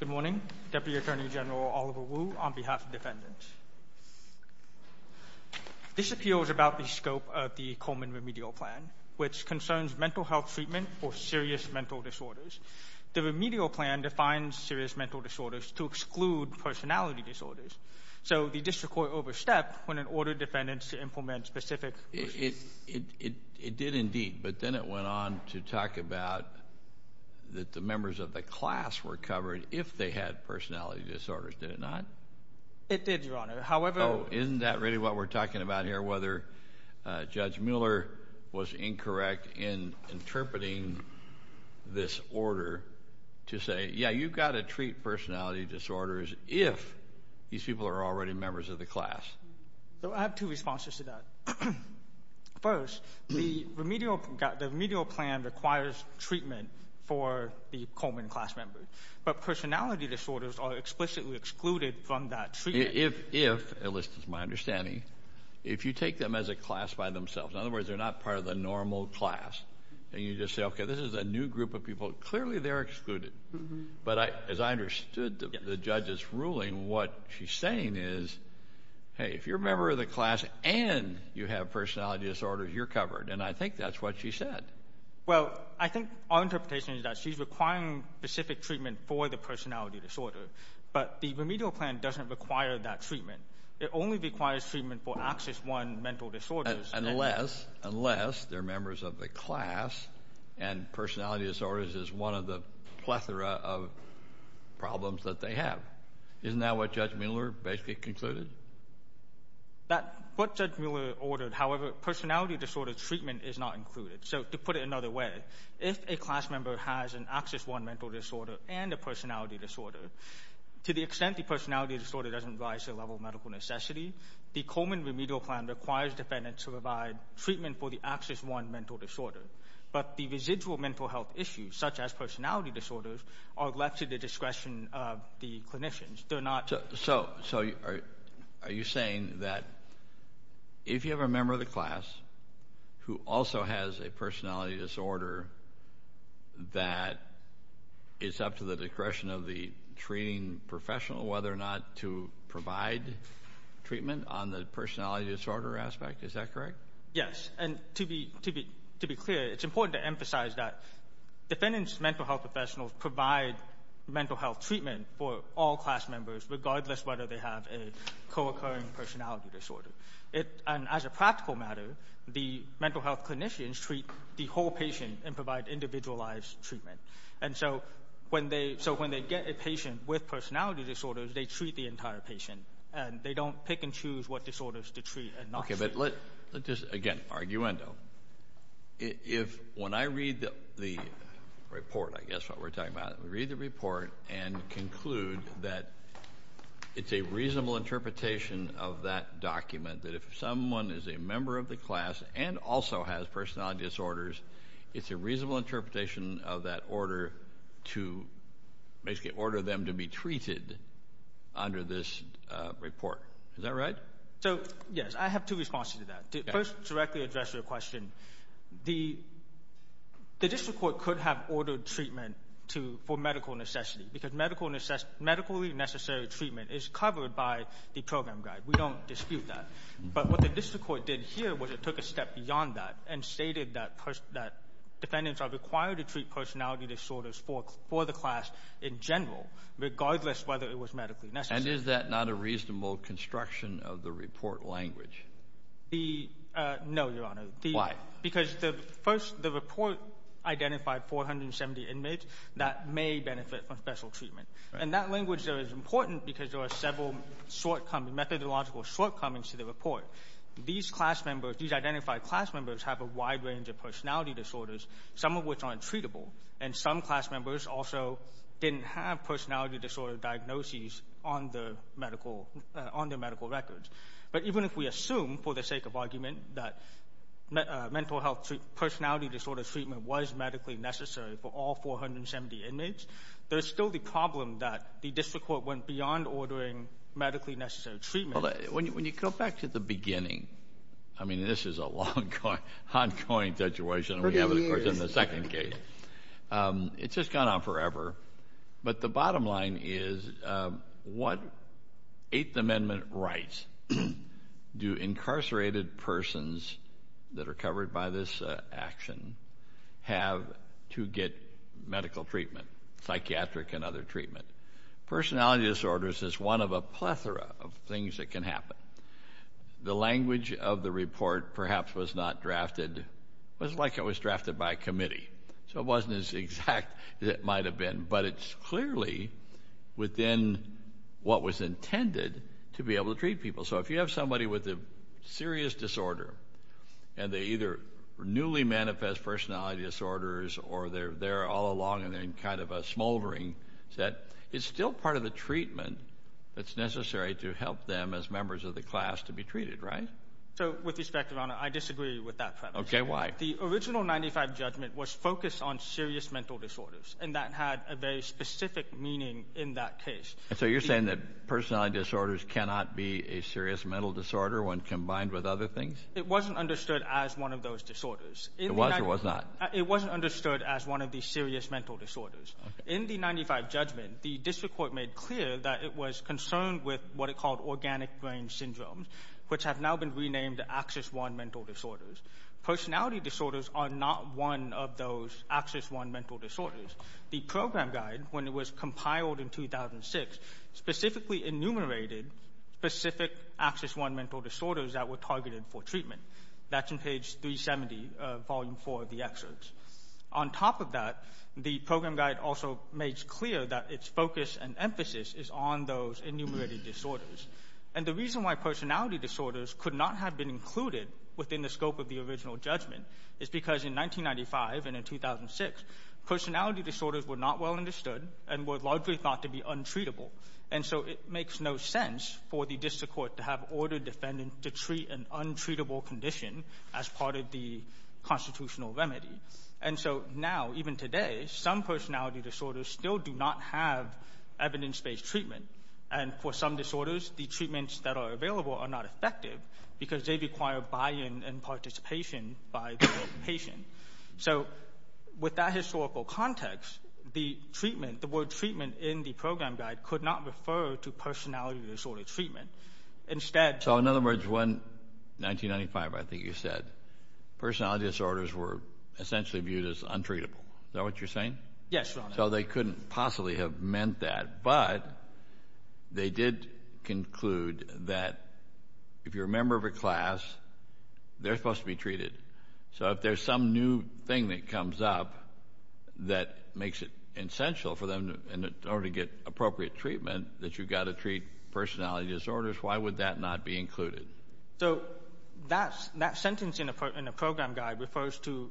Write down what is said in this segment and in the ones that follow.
Good morning. Deputy Attorney General Oliver Wu on behalf of defendants. This appeal is about the scope of the Coleman Remedial Plan, which concerns mental health treatment for serious mental disorders. The remedial plan defines serious mental disorders to exclude personality disorders. So the district court overstepped when it ordered defendants to implement specific... It did indeed, but then it went on to talk about that the members of the class were covered if they had personality disorders. Did it not? It did, Your Honor. However... Oh, isn't that really what we're talking about here? Whether Judge Mueller was incorrect in interpreting this order to say, Yeah, you've got to treat personality disorders if these people are already members of the class. So I have two responses to that. First, the remedial plan requires treatment for the Coleman class member, but personality disorders are explicitly excluded from that treatment. If, at least it's my understanding, if you take them as a class by themselves, in other words, they're not part of the normal class, and you just say, Okay, this is a new group of people, clearly they're excluded. But as I understood the judge's ruling, what she's saying is, Hey, if you're a member of the class and you have personality disorders, you're covered. And I think that's what she said. Well, I think our interpretation is that she's requiring specific treatment for the personality disorder, but the remedial plan doesn't require that treatment. It only requires treatment for Axis I mental disorders. Unless, unless they're members of the class and personality disorders is one of the plethora of problems that they have. Isn't that what Judge Mueller basically concluded? What Judge Mueller ordered, however, personality disorder treatment is not included. So to put it another way, if a class member has an Axis I mental disorder and a personality disorder, to the extent the personality disorder doesn't rise to the level of medical necessity, the Coleman remedial plan requires defendants to provide treatment for the Axis I mental disorder. But the residual mental health issues, such as personality disorders, are left to the discretion of the clinicians. They're not. So are you saying that if you have a member of the class who also has a personality disorder, that it's up to the discretion of the treating professional whether or not to provide treatment on the personality disorder aspect? Is that correct? Yes. And to be clear, it's important to emphasize that defendants' mental health professionals provide mental health treatment for all class members, regardless whether they have a co-occurring personality disorder. And as a practical matter, the mental health clinicians treat the whole patient and provide individualized treatment. And so when they get a patient with personality disorders, they treat the entire patient and they don't pick and choose what disorders to treat and not treat. Okay, but let's just, again, arguendo. If, when I read the report, I guess what we're talking about, I read the report and conclude that it's a reasonable interpretation of that document that if someone is a member of the class and also has personality disorders, it's a reasonable interpretation of that order to basically order them to be treated under this report. Is that right? So, yes, I have two responses to that. To first directly address your question, the district court could have ordered treatment for medical necessity because medical necessary treatment is covered by the program guide. We don't dispute that. But what the district court did here was it took a step beyond that and stated that defendants are required to treat personality disorders for the class in general, regardless whether it was medically necessary. And is that not a reasonable construction of the report language? No, Your Honor. Why? Because the first, the report identified 470 inmates that may benefit from special treatment. And that language there is important because there are several shortcomings, methodological shortcomings to the report. These class members, these identified class members, have a wide range of personality disorders, some of which aren't treatable. And some class members also didn't have personality disorder diagnoses on the medical, on their medical records. But even if we assume, for the sake of argument, that mental health personality disorder treatment was medically necessary for all 470 inmates, there's still the problem that the district court went beyond ordering medically necessary treatment. When you go back to the beginning, I mean, this is a long ongoing situation, and we have it, of course, in the second case. It's just gone on forever. But the bottom line is what Eighth Amendment rights do incarcerated persons that are covered by this action have to get medical treatment, psychiatric and other treatment. Personality disorders is one of a plethora of things that can happen. The language of the report perhaps was not drafted, it was like it was drafted by a committee. So it wasn't as exact as it might have been. But it's clearly within what was intended to be able to treat people. So if you have somebody with a serious disorder and they either newly manifest personality disorders or they're there all along and they're in kind of a smoldering, it's still part of the treatment that's necessary to help them as members of the class to be treated, right? So with respect, Your Honor, I disagree with that premise. Okay, why? The original 95 judgment was focused on serious mental disorders, and that had a very specific meaning in that case. So you're saying that personality disorders cannot be a serious mental disorder when combined with other things? It wasn't understood as one of those disorders. It was or was not? It wasn't understood as one of the serious mental disorders. In the 95 judgment, the district court made clear that it was concerned with what it called organic brain syndromes, which have now been renamed Axis I mental disorders. Personality disorders are not one of those Axis I mental disorders. The program guide, when it was compiled in 2006, specifically enumerated specific Axis I mental disorders that were targeted for treatment. That's in page 370, volume 4 of the excerpts. On top of that, the program guide also makes clear that its focus and emphasis is on those enumerated disorders. And the reason why personality disorders could not have been included within the scope of the original judgment is because in 1995 and in 2006, personality disorders were not well understood and were largely thought to be untreatable. And so it makes no sense for the district court to have ordered defendants to treat an untreatable condition as part of the constitutional remedy. And so now, even today, some personality disorders still do not have evidence-based treatment. And for some disorders, the treatments that are available are not effective because they require buy-in and participation by the patient. So with that historical context, the treatment, the word treatment in the program guide could not refer to personality disorder treatment. Instead... So in other words, when, 1995 I think you said, personality disorders were essentially viewed as untreatable. Is that what you're saying? Yes. So they couldn't possibly have meant that, but they did conclude that if you're a member of a class, they're supposed to be treated. So if there's some new thing that comes up that makes it essential for them, in order to get appropriate treatment, that you've got to treat personality disorders, why would that not be included? So that sentence in the program guide refers to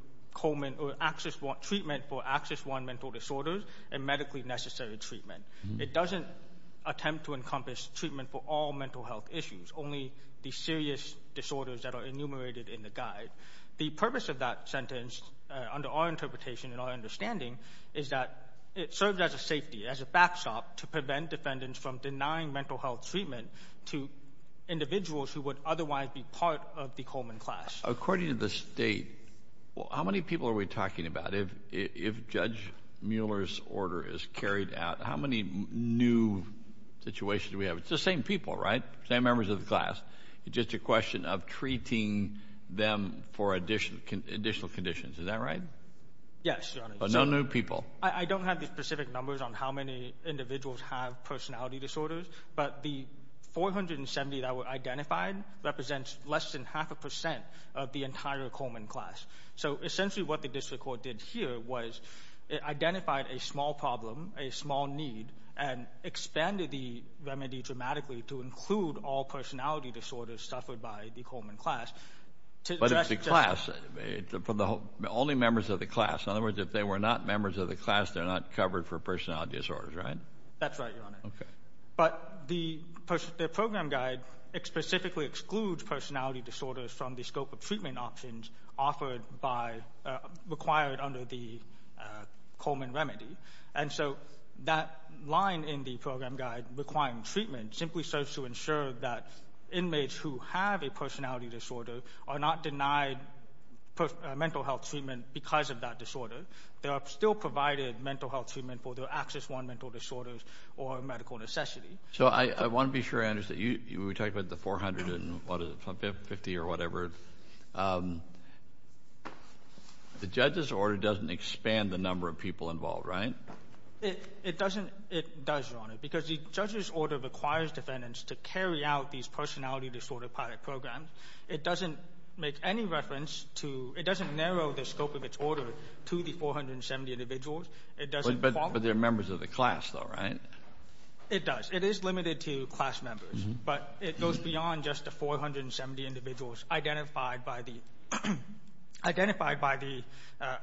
treatment for access one mental disorders and medically necessary treatment. It doesn't attempt to encompass treatment for all mental health issues, only the serious disorders that are enumerated in the guide. The purpose of that sentence, under our interpretation and our understanding, is that it serves as a safety, as a backstop to prevent defendants from denying mental health treatment to individuals who would otherwise be part of the Coleman class. According to the state, well, how many people are we talking about? If Judge Mueller's order is carried out, how many new situations do we have? It's the same people, right? Same members of the class. It's just a question of treating them for additional conditions. Is that right? Yes, Your Honor. So no new people. I don't have the specific numbers on how many individuals have personality disorders, but the 470 that were identified represents less than half a percent of the entire Coleman class. So essentially what the district court did here was it identified a small problem, a small need, and expanded the remedy dramatically to include all personality disorders suffered by the Coleman class. But if the class, for the only members of the class, in other words, if they were not members of the class, they're not covered for personality disorders, right? That's right, Your Honor. But the program guide specifically excludes personality disorders from the scope of treatment options offered by, required under the Coleman remedy. And so that line in the program guide requiring treatment simply serves to ensure that inmates who have a personality disorder are not denied mental health treatment because of that disorder. They are still provided mental health treatment for their Access 1 mental disorders or medical necessity. So I want to be sure, Anders, that you talked about the 450 or whatever. The judge's order doesn't expand the number of people involved, right? It doesn't, it does, Your Honor, because the judge's order requires defendants to carry out these personality disorder pilot programs. It doesn't make any reference to, it doesn't narrow the scope of its order to the 470 individuals. But they're members of the class though, right? It does. It is limited to class members, but it goes beyond just the 470 individuals identified by the, identified by the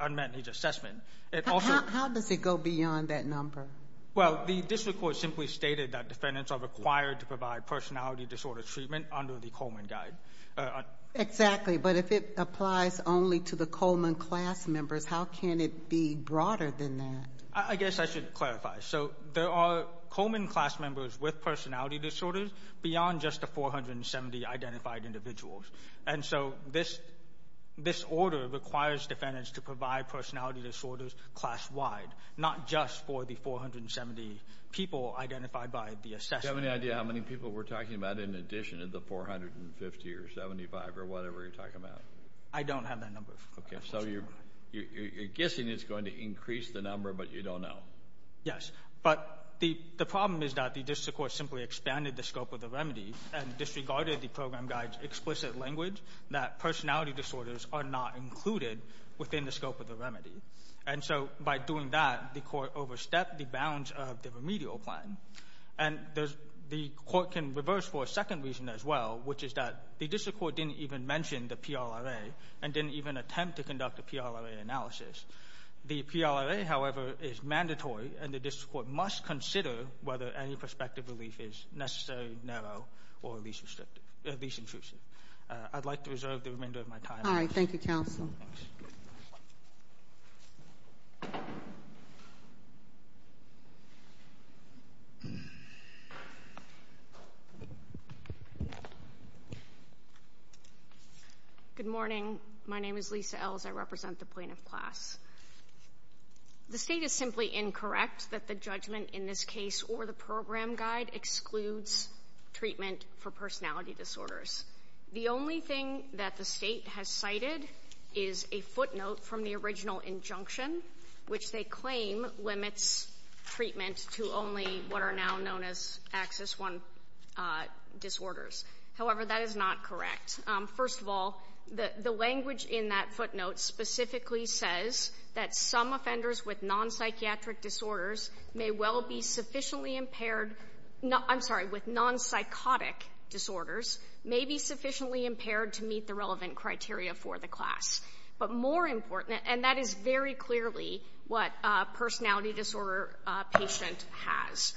unmet needs assessment. How does it go beyond that number? Well, the district court simply stated that defendants are required to provide personality disorder treatment under the Coleman guide. Exactly, but if it applies only to the Coleman class members, how can it be broader than that? I guess I should clarify. So there are Coleman class members with personality disorders beyond just the 470 identified individuals. And so this, this order requires defendants to provide personality disorders class-wide, not just for the 470 people identified by the assessment. Do you have any idea how many people we're talking about in addition of the 450 or 75 or whatever you're talking about? I don't have that number. Okay, so you're, you're guessing it's going to increase the number, but you don't know. Yes, but the, the problem is that the district court simply expanded the scope of the remedy and disregarded the program guide's explicit language that personality disorders are not included within the scope of the remedy. And so by doing that, the court overstepped the bounds of the remedial plan. And there's, the court can reverse for a second reason as well, which is that the district court didn't even mention the PLRA and didn't even attempt to conduct a PLRA analysis. The PLRA, however, is mandatory and the district court must consider whether any prospective relief is necessary, narrow, or at least restrictive, at least intrusive. I'd like to reserve the remainder of my time. All right. Thank you, counsel. Good morning. My name is Lisa Ells. I represent the plaintiff class. The state is simply incorrect that the judgment in this case or the program guide excludes treatment for personality disorders. The only thing that the state has cited is a footnote from the original injunction, which they claim limits treatment to only what are now known as Axis I disorders. However, that is not correct. First of all, the language in that footnote specifically says that some offenders with non-psychiatric disorders may well be sufficiently impaired, I'm sorry, with non-psychotic disorders may be sufficiently impaired to meet the relevant criteria for the class. But more important, and that is very clearly what a personality disorder patient has.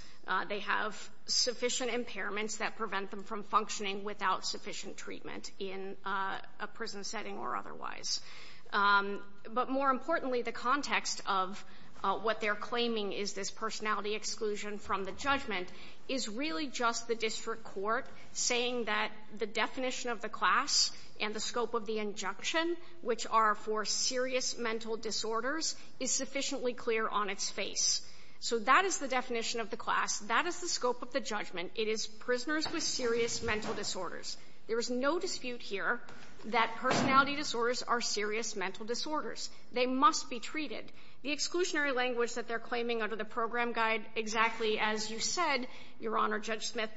They have sufficient impairments that prevent them from functioning without sufficient treatment in a prison setting or otherwise. But more importantly, the context of what they're claiming is this personality exclusion from the judgment is really just the district court saying that the definition of the class and the scope of the injunction, which are for serious mental disorders, is sufficiently clear on its face. So that is the definition of the class. That is the scope of the judgment. It is prisoners with serious mental disorders. There is no dispute here that personality disorders are serious mental disorders. They must be treated. The exclusionary language that they're claiming under the program guide, exactly as you said, Your Honor, Judge Smith,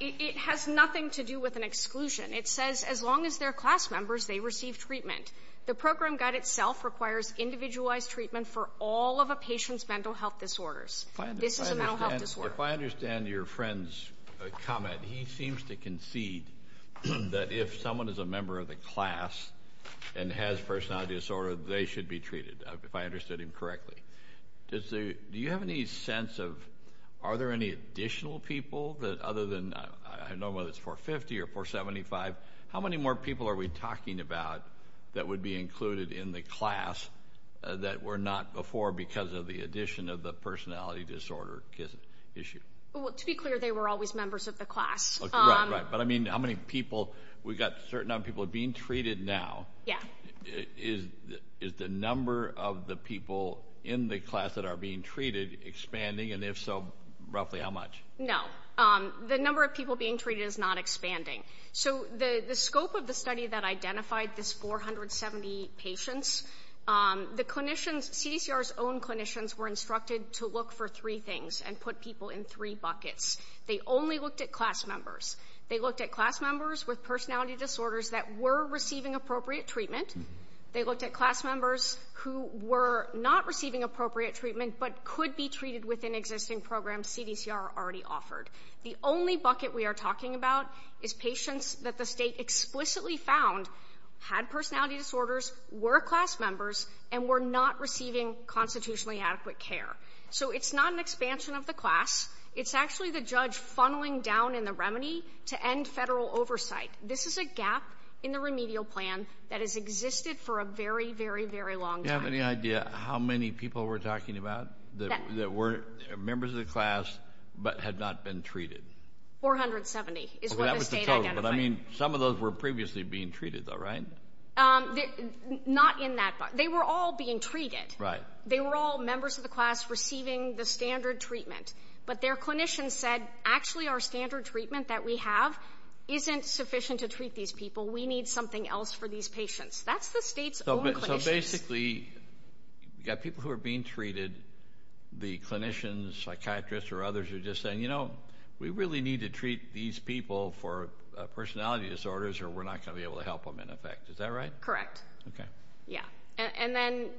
it has nothing to do with an exclusion. It says as long as they're class members, they receive treatment. The program guide itself requires individualized treatment for all of a patient's mental health disorders. This is a mental health disorder. If I understand your friend's comment, he seems to concede that if someone is a member of the class and has personality disorder, they should be treated, if I understood him correctly. Do you have any sense of, are there any additional people that, other than, I don't know whether it's 450 or 475, how many more people are we talking about that would be included in the class that were not before because of the addition of the personality disorder issue? To be clear, they were always members of the class. Right, right. But I mean, how many people, we've got certain number of people being treated now. Yeah. Is the number of the people in the class that are being treated expanding? And if so, roughly how much? No. The number of people being treated is not expanding. So the scope of the study that identified this 470 patients, the clinicians, CDCR's own clinicians, were instructed to look for three things and put people in three buckets. They only looked at class members. They looked at class members with personality disorders that were receiving appropriate treatment. They looked at class members who were not receiving appropriate treatment but could be treated within existing programs CDCR already offered. The only bucket we are talking about is patients that the state explicitly found had personality disorders, were class members, and were not receiving constitutionally adequate care. So it's not an expansion of the class. It's actually the judge funneling down in the remedy to end federal oversight. This is a gap in the remedial plan that has existed for a very, very, very long time. Do you have any idea how many people we're talking about that weren't members of the class but had not been treated? 470 is what I mean. Some of those were previously being treated, though, right? Um, not in that they were all being treated, right? They were all members of the class receiving the standard treatment. But their clinicians said, Actually, our standard treatment that we have isn't sufficient to treat these people. We need something else for these patients. That's the state's basically got people who are being treated. The clinicians, psychiatrists or others are just saying, You know, we really need to treat these people for personality disorders, or we're not gonna be able to help them in effect. Is that right? Correct. Okay. Yeah. And then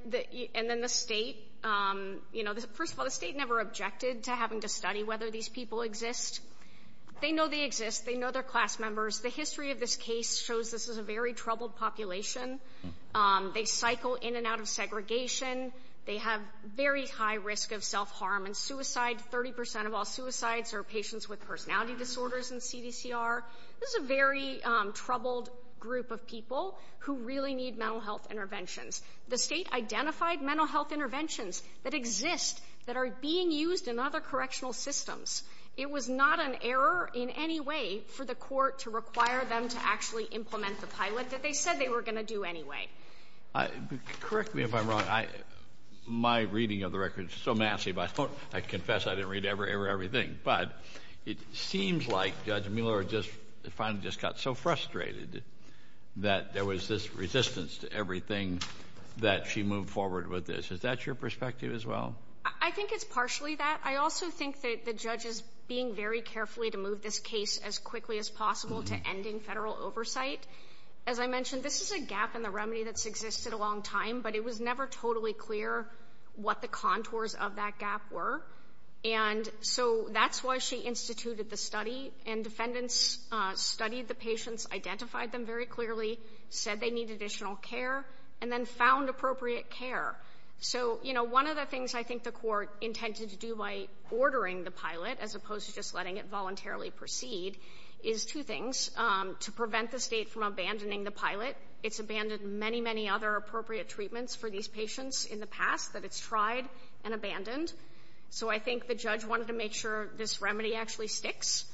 and then the state, um, you know, first of all, the state never objected to having to study whether these people exist. They know they exist. They know their class members. The history of this case shows this is a very troubled population. Um, they cycle in and out of segregation. They have very high risk of self harm and suicide. 30% of all suicides are patients with personality disorders and C. D. C. R. This is a very troubled group of people who really need mental health interventions. The state identified mental health interventions that exist that are being used in other correctional systems. It was not an error in any way for the court to require them to actually implement the pilot that they said they were gonna do anyway. Correct me if I'm wrong. I my reading of the records so massive, I thought I confess I didn't read ever ever everything. But it seems like Judge Miller just finally just got so frustrated that there was this resistance to everything that she moved forward with this. Is that your perspective as well? I think it's partially that. I also think that the judge is being very carefully to move this case as quickly as possible to ending federal oversight. As I mentioned, this is a gap in the remedy that's existed a long time, but it was never totally clear what the contours of that gap were. And so that's why she instituted the study and defendants studied the patients, identified them very clearly, said they need additional care and then found appropriate care. So you know, one of the things I think the court intended to do by ordering the pilot as opposed to just letting it voluntarily proceed is two things to prevent the state from abandoning the pilot. It's abandoned many, many other appropriate treatments for these patients in the past that it's tried and abandoned. So I think the judge wanted to make sure this remedy actually sticks.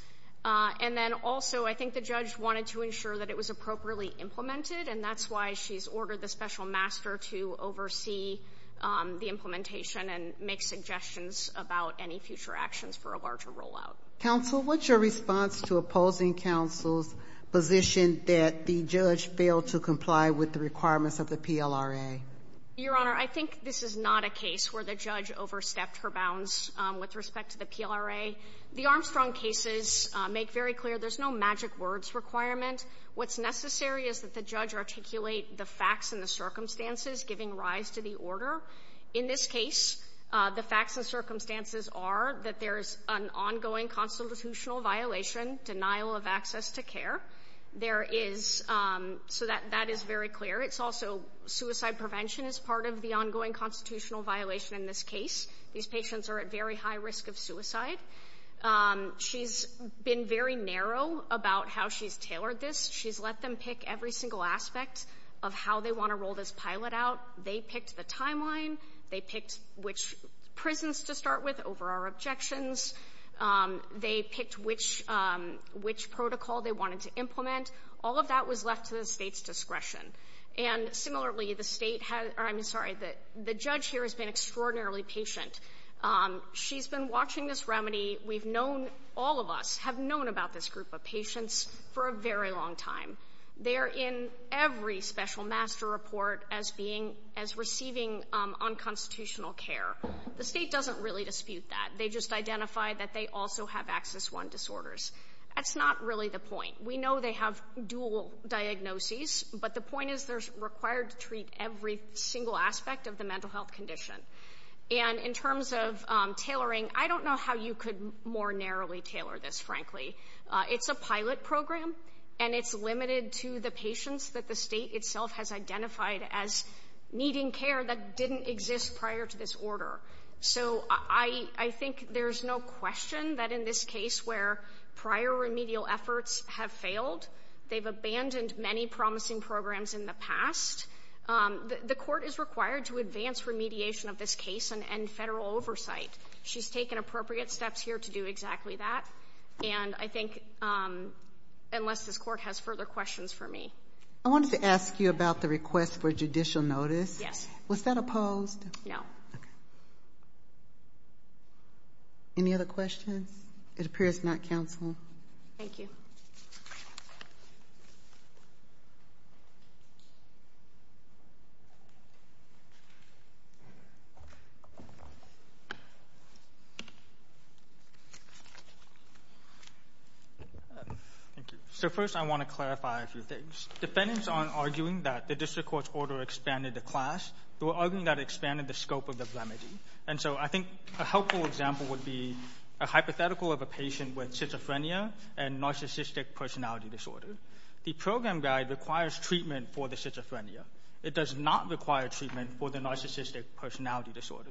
And then also, I think the judge wanted to ensure that it was appropriately implemented. And that's why she's ordered the special master to oversee the implementation and make suggestions about any future actions for a larger rollout. Counsel, what's your response to opposing counsel's position that the judge failed to comply with the requirements of the PLRA? Your Honor, I think this is not a case where the judge overstepped her bounds with respect to the PLRA. The Armstrong cases make very clear there's no magic words requirement. What's necessary is that the judge articulate the facts and the circumstances, giving rise to the order. In this case, the facts and circumstances are that there's an ongoing constitutional violation, denial of access to care. So that is very clear. It's also suicide prevention is part of the ongoing constitutional violation in this case. These patients are at very high risk of suicide. She's been very narrow about how she's tailored this. She's let them pick every single aspect of how they want to roll this pilot out. They picked the timeline. They picked which prisons to start with over our objections. They picked which protocol they wanted to implement. All of that was left to the State's discretion. And similarly, the State has, I'm sorry, the judge here has been extraordinarily patient. She's been watching this remedy. We've known, all of us have known about this group of patients for a very long time. They are in every special master report as being, as receiving unconstitutional care. The State doesn't really dispute that. They just identify that they also have access one disorders. That's not really the point. We know they have dual diagnoses, but the point is there's required to treat every single aspect of the mental health condition. And in terms of tailoring, I don't know how you could more narrowly tailor this, frankly. It's a pilot program and it's limited to the patients that the State itself has identified as needing care that didn't exist prior to this order. So I think there's no question that in this case where prior remedial efforts have failed, they've abandoned many promising programs in the past, the court is required to advance remediation of this case and federal oversight. She's taken appropriate steps here to do exactly that. And I think, unless this court has further questions for me. I wanted to ask you about the request for judicial notice. Yes. Was that opposed? No. Any other questions? It appears not, counsel. Thank you. Thank you. So first, I want to clarify a few things. Defendants aren't arguing that the district court's order expanded the class. They were arguing that it expanded the scope of the remedy. And so I think a helpful example would be a hypothetical of a patient with schizophrenia and narcissistic personality disorder. The program guide requires treatment for the schizophrenia. It does not require treatment for the narcissistic personality disorder.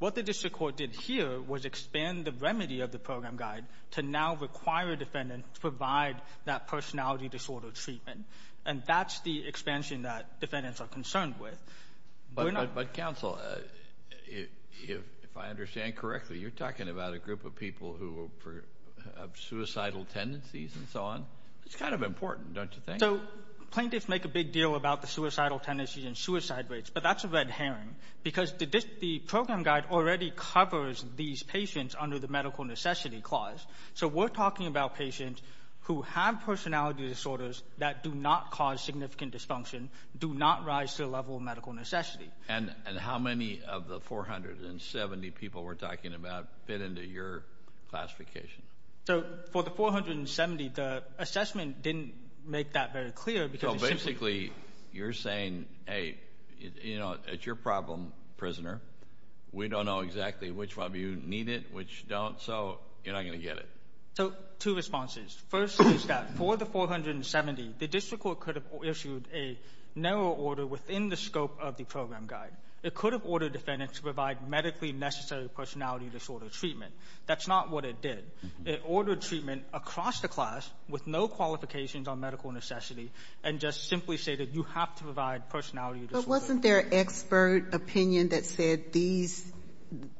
What the district court did here was expand the remedy of the program guide to now require defendants to provide that personality disorder treatment. And that's the expansion that defendants are concerned with. But counsel, if I understand correctly, you're talking about a group of people who have suicidal tendencies and so on. It's kind of important, don't you think? So plaintiffs make a big deal about the suicidal tendencies and suicide rates, but that's a red herring. Because the program guide already covers these patients under the medical necessity clause. So we're talking about patients who have personality disorders that do not cause significant dysfunction, do not rise to the level of medical necessity. And how many of the 470 people we're talking about fit into your classification? So for the 470, the assessment didn't make that very clear because... So basically, you're saying, hey, it's your problem, prisoner. We don't know exactly which of you need it, which don't. So you're not gonna get it. So two responses. First is that for the 470, the district court could have issued a narrow order within the scope of the program guide. It could have ordered defendants to provide medically necessary personality disorder treatment. That's not what it did. It ordered treatment across the class with no qualifications on medical necessity, and just simply said that you have to provide personality disorder treatment. But wasn't there an expert opinion that said these,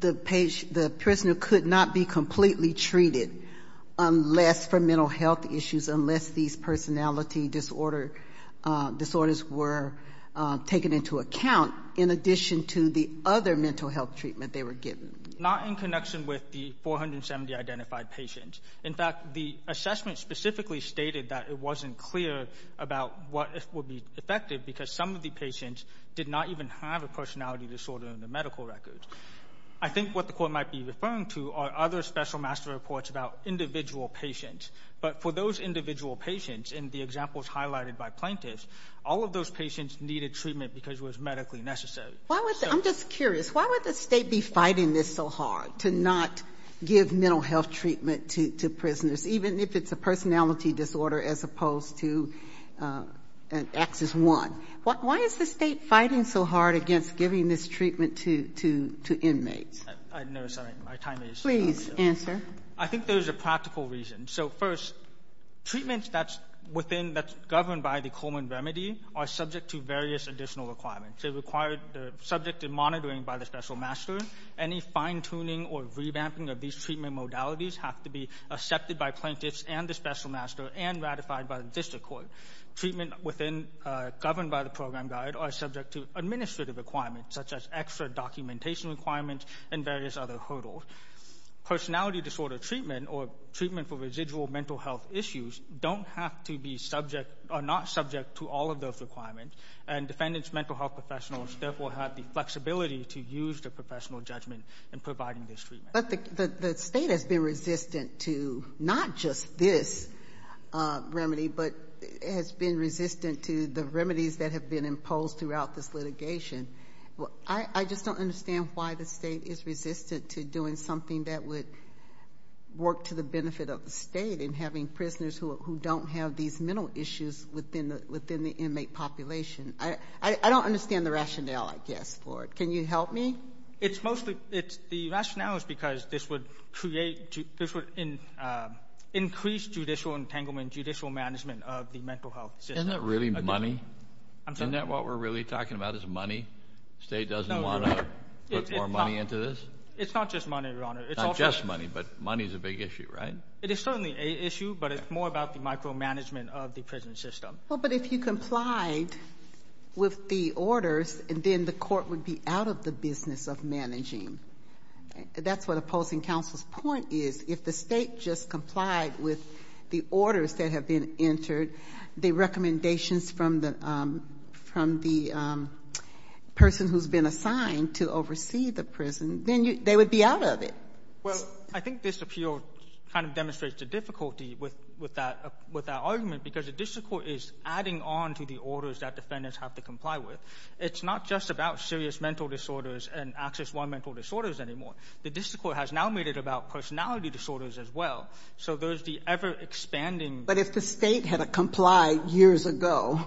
the prisoner could not be completely treated unless, for mental health issues, unless these personality disorders were taken into account, in addition to the other mental health treatment they were given? Not in connection with the 470 identified patients. In fact, the assessment specifically stated that it wasn't clear about what would be effective because some of the patients did not even have a personality disorder in their medical records. I think what the court might be referring to are other special master reports about individual patients. But for those individual patients, in the examples highlighted by plaintiffs, all of those patients needed treatment because it was medically necessary. Why would the, I'm just curious, why would the State be fighting this so hard, to not give mental health treatment to prisoners, even if it's a personality disorder as opposed to an Axis I? Why is the State fighting so hard against giving this treatment to inmates? I'm sorry. My time is up. Please answer. I think there's a practical reason. So first, treatments that's within, that's governed by the Coleman remedy are subject to various additional requirements. They require, they're subject to monitoring by the special master. Any fine-tuning or revamping of these treatment modalities have to be accepted by plaintiffs and the special master and ratified by the district court. Treatment within, governed by the program guide are subject to administrative requirements, such as extra documentation requirements and various other hurdles. Personality disorder treatment or treatment for residual mental health issues don't have to be subject, are not subject to all of those requirements. And defendants' mental health professionals therefore have the flexibility to use their professional judgment in providing this treatment. But the State has been resistant to not just this remedy, but has been resistant to the remedies that have been imposed throughout this litigation. I just don't understand why the State is resistant to doing something that would work to the benefit of the State in having prisoners who don't have these mental issues within the inmate population. I don't understand the rationale, I guess, for it. Can you help me? It's mostly, the rationale is because this would create, this would increase judicial entanglement, judicial management of the mental health system. Isn't it really money? Isn't that what we're really talking about is money? State doesn't want to put more money into this? It's not just money, Your Honor. It's not just money, but money is a big issue, right? It is certainly an issue, but it's more about the micromanagement of the prison system. Well, but if you complied with the orders, then the court would be out of the business of managing. That's what opposing counsel's point is. If the State just complied with the orders that have been entered, the recommendations from the person who's been assigned to oversee the prison, then they would be out of it. Well, I think this appeal kind of demonstrates the difficulty with that argument because the district court is adding on to the orders that defendants have to comply with. It's not just about serious mental disorders and access one mental disorders anymore. The district court has now made it about personality disorders as well. So there's the ever-expanding... But if the State had to comply years ago,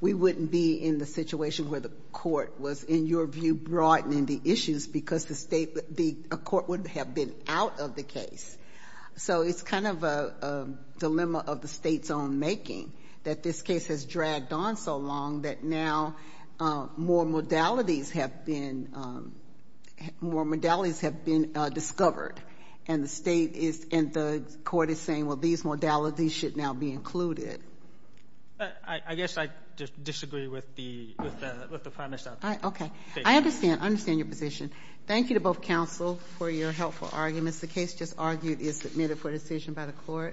we wouldn't be in the situation where the court was, in your view, broadening the issues because the State, the court would have been out of the case. So it's kind of a dilemma of the State's own making that this case has dragged on so long that now more modalities have been, more modalities have been discovered. And the State is, and the court is saying, well, these modalities should now be included. I guess I disagree with the premise of that. Okay. I understand. I understand your position. Thank you to both counsel for your helpful arguments. The case just argued is submitted for decision by the